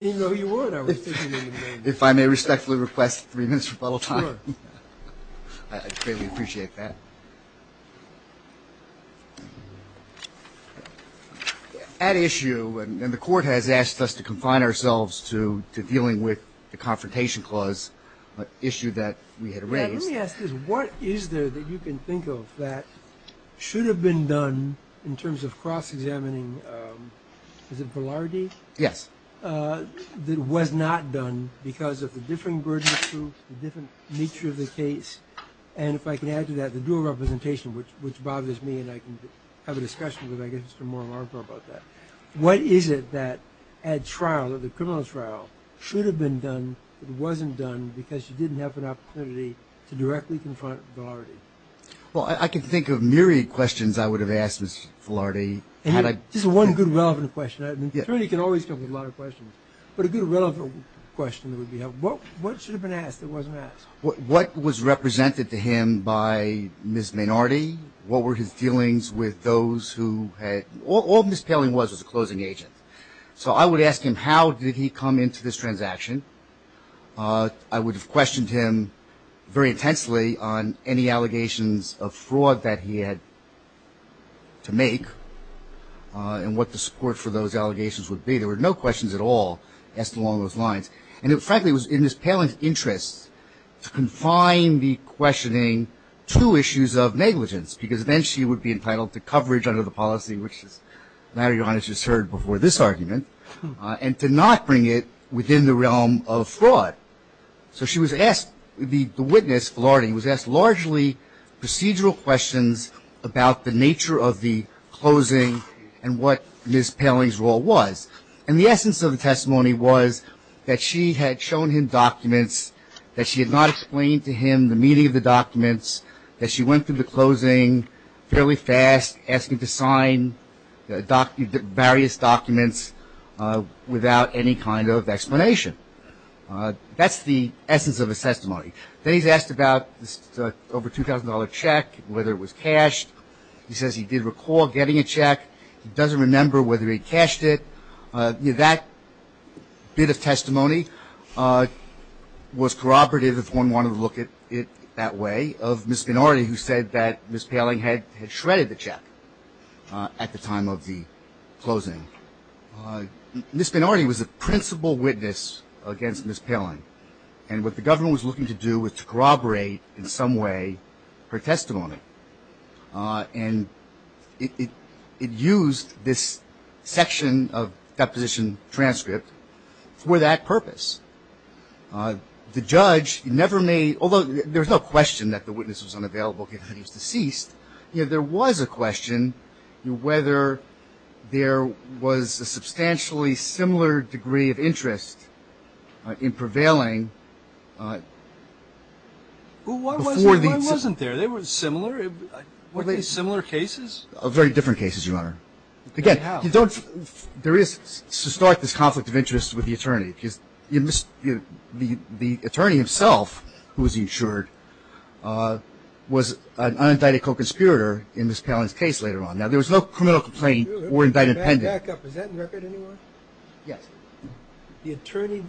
What is there that you can think of that should have been done in terms of cross-examining and cross-examining, is it Velardy? Yes. That was not done because of the different burden of proof, the different nature of the case, and if I can add to that, the dual representation, which bothers me and I can have a discussion with I guess Mr. Moore about that. What is it that at trial, at the criminal trial, should have been done but wasn't done because you didn't have an opportunity to directly confront Velardy? Well, I can think of myriad questions I would have asked Mr. Velardy. This is one good relevant question. An attorney can always come up with a lot of questions, but a good relevant question would be, what should have been asked that wasn't asked? What was represented to him by Ms. Maynardi? What were his feelings with those who had, all Ms. Paling was was a closing agent. So I would ask him how did he come into this transaction. I would have questioned him very intensely on any allegations of fraud that he had to make and what the support for those allegations would be. There were no questions at all asked along those lines. And frankly, it was in Ms. Paling's interest to confine the questioning to issues of negligence, because then she would be entitled to coverage under the policy, which as Mario has just heard before this argument, and to not bring it within the realm of fraud. So she was asked, the witness, Velardy, was asked largely procedural questions about the nature of the closing and what Ms. Paling's role was. And the essence of the testimony was that she had shown him documents, that she had not explained to him the meaning of the documents, that she went through the closing fairly fast, asking to sign various documents without any kind of explanation. That's the essence of the testimony. Then he's asked about this over $2,000 check, whether it was cashed. He says he did recall getting a check. He doesn't remember whether he cashed it. That bit of testimony was corroborative if one wanted to look at it that way, of Ms. Velardy who said that Ms. Paling had shredded the check at the time of the closing. Ms. Velardy was a principal witness against Ms. Paling. And what the government was looking to do was to corroborate in some way her testimony. And it used this section of deposition transcript for that purpose. The judge never made, although there was no question that the witness was unavailable given that he was deceased, there was a question whether there was a substantially similar degree of interest in prevailing. Why wasn't there? They were similar? Similar cases? Very different cases, Your Honor. Again, there is this conflict of interest with the attorney. The attorney himself, who was insured, was an unindicted co-conspirator in Ms. Paling's case later on. Now, there was no criminal complaint or indictment pending. Back up. Is that on record, anyone? Yes. You're talking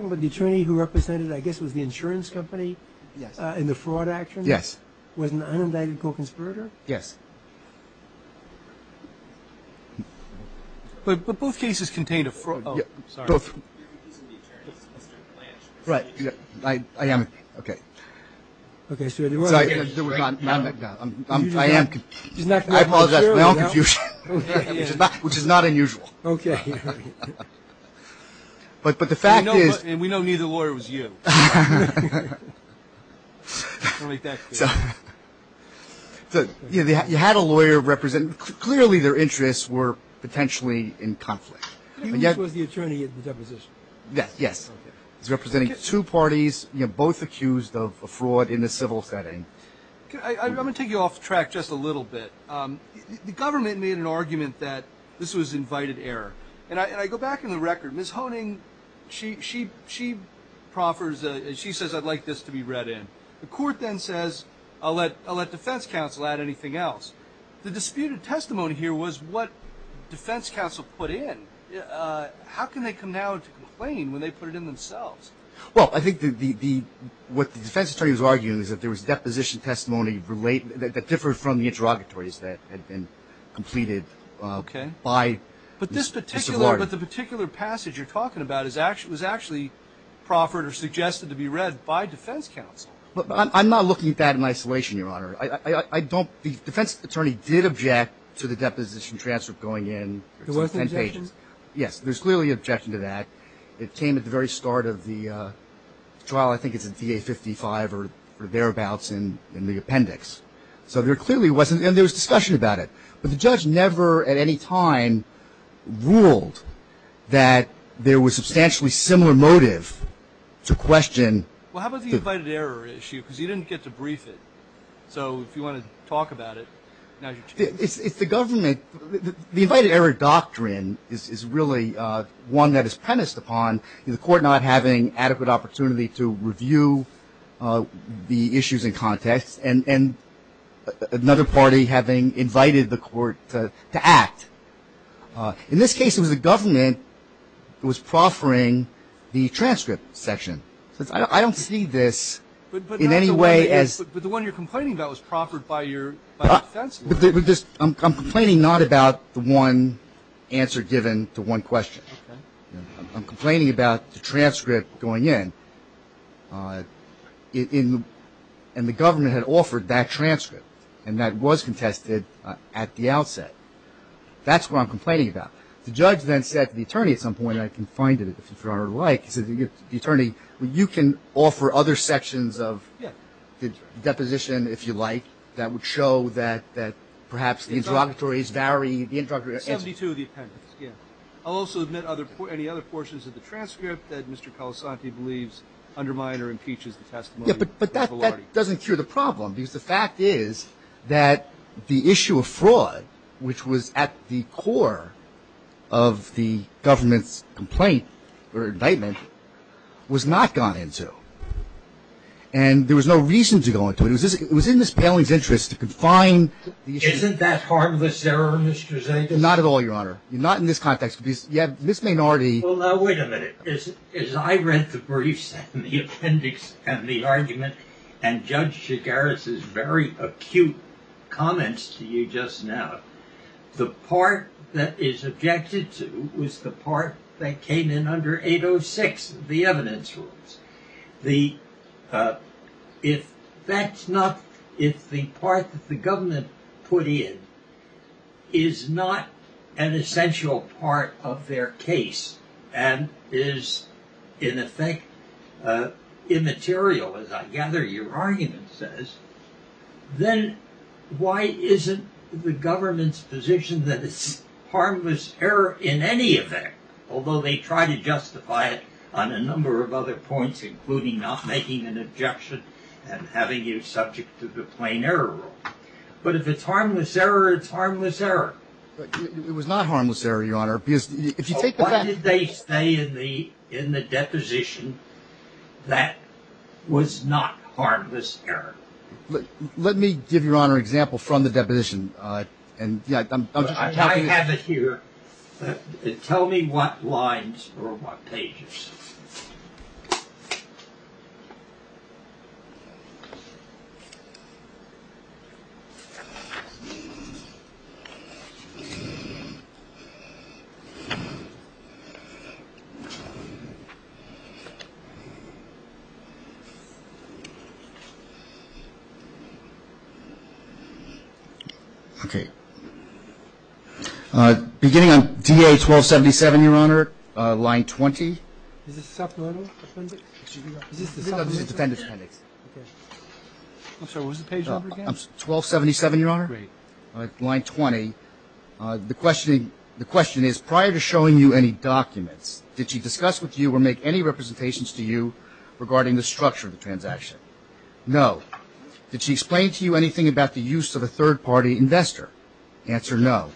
about the attorney who represented, I guess it was the insurance company in the fraud action? Yes. Was an unindicted co-conspirator? Yes. But both cases contained a fraud. Oh, sorry. Both. He's in the attorney's district plan. Right. I am. Okay. Okay, so you're right. I apologize for my own confusion, which is not unusual. Okay. But the fact is. And we know neither lawyer was you. I'll make that clear. You had a lawyer representing. Clearly, their interests were potentially in conflict. He was the attorney in the deposition. Yes. He's representing two parties, both accused of a fraud in a civil setting. I'm going to take you off track just a little bit. The government made an argument that this was invited error. And I go back in the record. Ms. Honing, she proffers, she says, I'd like this to be read in. The court then says, I'll let defense counsel add anything else. The disputed testimony here was what defense counsel put in. How can they come now to complain when they put it in themselves? Well, I think what the defense attorney was arguing is that there was deposition testimony that differed from the interrogatories that had been completed by Mr. Blardin. But the particular passage you're talking about was actually proffered or suggested to be read by defense counsel. I'm not looking at that in isolation, Your Honor. I don't the defense attorney did object to the deposition transfer going in. There was an objection? Yes. There's clearly an objection to that. It came at the very start of the trial. I think it's in DA 55 or thereabouts in the appendix. So there clearly wasn't, and there was discussion about it. But the judge never at any time ruled that there was substantially similar motive to question. Well, how about the invited error issue? Because you didn't get to brief it. So if you want to talk about it. It's the government. The invited error doctrine is really one that is premised upon the court not having adequate opportunity to review the issues in context and another party having invited the court to act. In this case, it was the government that was proffering the transcript section. I don't see this in any way as. But the one you're complaining about was proffered by your defense lawyer. I'm complaining not about the one answer given to one question. Okay. I'm complaining about the transcript going in. And the government had offered that transcript. And that was contested at the outset. That's what I'm complaining about. The judge then said to the attorney at some point, and I can find it if you'd rather like, he said to the attorney, you can offer other sections of the deposition, if you like, that would show that perhaps the interrogatories vary. 72 of the appendix, yeah. I'll also admit any other portions of the transcript that Mr. Colasanti believes undermine or impeaches the testimony. Yeah, but that doesn't cure the problem. Because the fact is that the issue of fraud, which was at the core of the government's complaint or indictment, was not gone into. And there was no reason to go into it. It was in Ms. Poehling's interest to confine the issue. Isn't that harmless error, Mr. Zagos? Not at all, Your Honor. Not in this context. Ms. Maynardi. Well, now, wait a minute. As I read the briefs and the appendix and the argument, and Judge Chigaris's very acute comments to you just now, the part that is objected to was the part that came in under 806, the evidence rules. If that's not, if the part that the government put in is not an argument that is, in effect, immaterial, as I gather your argument says, then why isn't the government's position that it's harmless error in any effect, although they try to justify it on a number of other points, including not making an objection and having you subject to the plain error rule. But if it's harmless error, it's harmless error. It was not harmless error, Your Honor. What did they say in the deposition that was not harmless error? Let me give you, Your Honor, an example from the deposition. I have it here. Tell me what lines or what pages. Okay. Beginning on DA-1277, Your Honor, line 20. Is this the supplemental appendix? No, this is the defendant's appendix. Okay. I'm sorry, what was the page number again? 1277, Your Honor. Great. Line 20. The question is, prior to showing you any documents, did she discuss with you or make any representations to you regarding the structure of the transaction? No. Did she explain to you anything about the use of a third-party investor? Answer, no.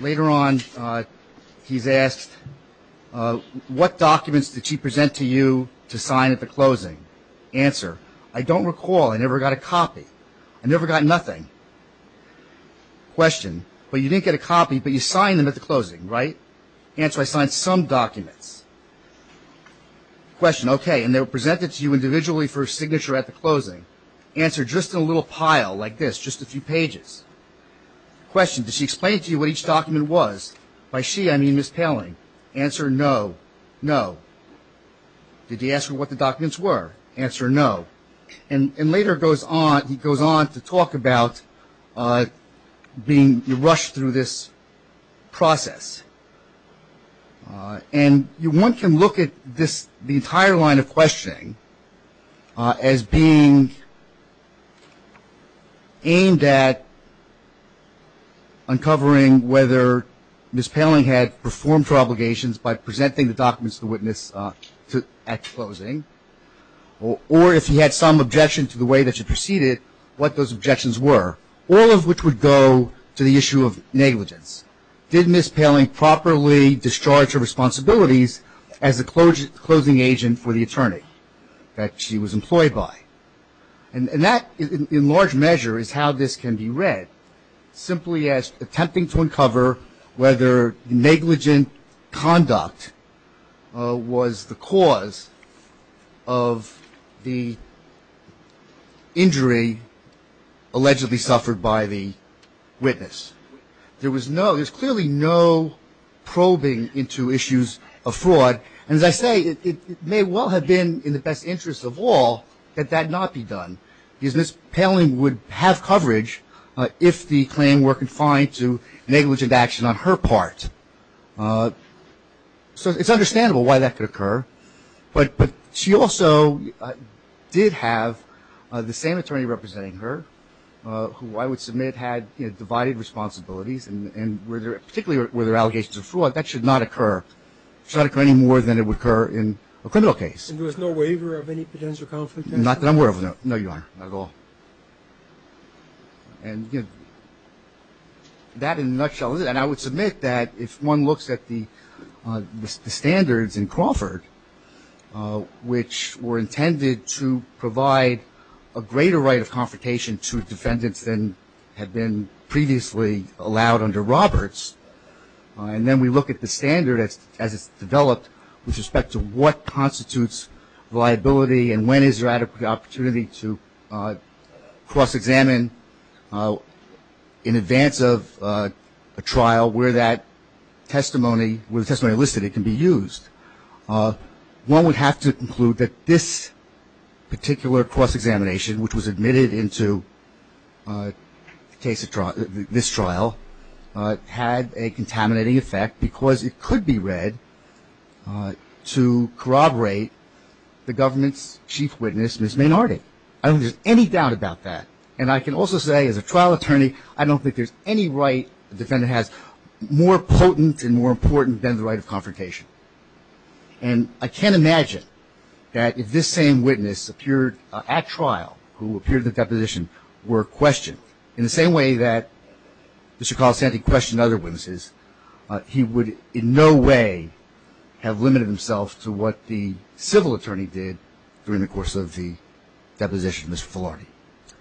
Later on, he's asked, what documents did she present to you to sign at the closing? Answer, I don't recall. I never got a copy. I never got nothing. Question, well, you didn't get a copy, but you signed them at the closing, right? Answer, I signed some documents. Question, okay, and they were presented to you individually for signature at the closing. Answer, just in a little pile like this, just a few pages. Question, did she explain to you what each document was? By she, I mean Ms. Poehling. Answer, no. No. Did he ask her what the documents were? Answer, no. And later he goes on to talk about being rushed through this process. And one can look at the entire line of questioning as being aimed at uncovering whether Ms. Poehling had performed her obligations by presenting the documents to the witness at closing, or if he had some objection to the way that she proceeded, what those objections were, all of which would go to the issue of negligence. Did Ms. Poehling properly discharge her responsibilities as a closing agent for the attorney that she was employed by? And that, in large measure, is how this can be read, simply as attempting to was the cause of the injury allegedly suffered by the witness. There was no, there's clearly no probing into issues of fraud. And as I say, it may well have been in the best interest of all that that not be done, because Ms. Poehling would have coverage if the claim were confined to negligent action on her part. So it's understandable why that could occur. But she also did have the same attorney representing her, who I would submit had divided responsibilities, and particularly where there were allegations of fraud. That should not occur. It should not occur any more than it would occur in a criminal case. And there was no waiver of any potential conflict? Not that I'm aware of, no, Your Honor. Not at all. And that, in a nutshell, and I would submit that if one looks at the standards in Crawford, which were intended to provide a greater right of confrontation to defendants than had been previously allowed under Roberts, and then we look at the standard as it's developed with respect to what constitutes liability and when is there an opportunity to cross-examine in advance of a trial where that testimony, where the testimony listed, it can be used, one would have to conclude that this particular cross-examination, which was admitted into this trial, had a contaminating effect because it could be read to corroborate the I don't think there's any doubt about that. And I can also say, as a trial attorney, I don't think there's any right a defendant has more potent and more important than the right of confrontation. And I can't imagine that if this same witness appeared at trial, who appeared at the deposition, were questioned in the same way that Mr. Calisanti questioned other witnesses, he would in no way have limited himself to what the source of the deposition was for.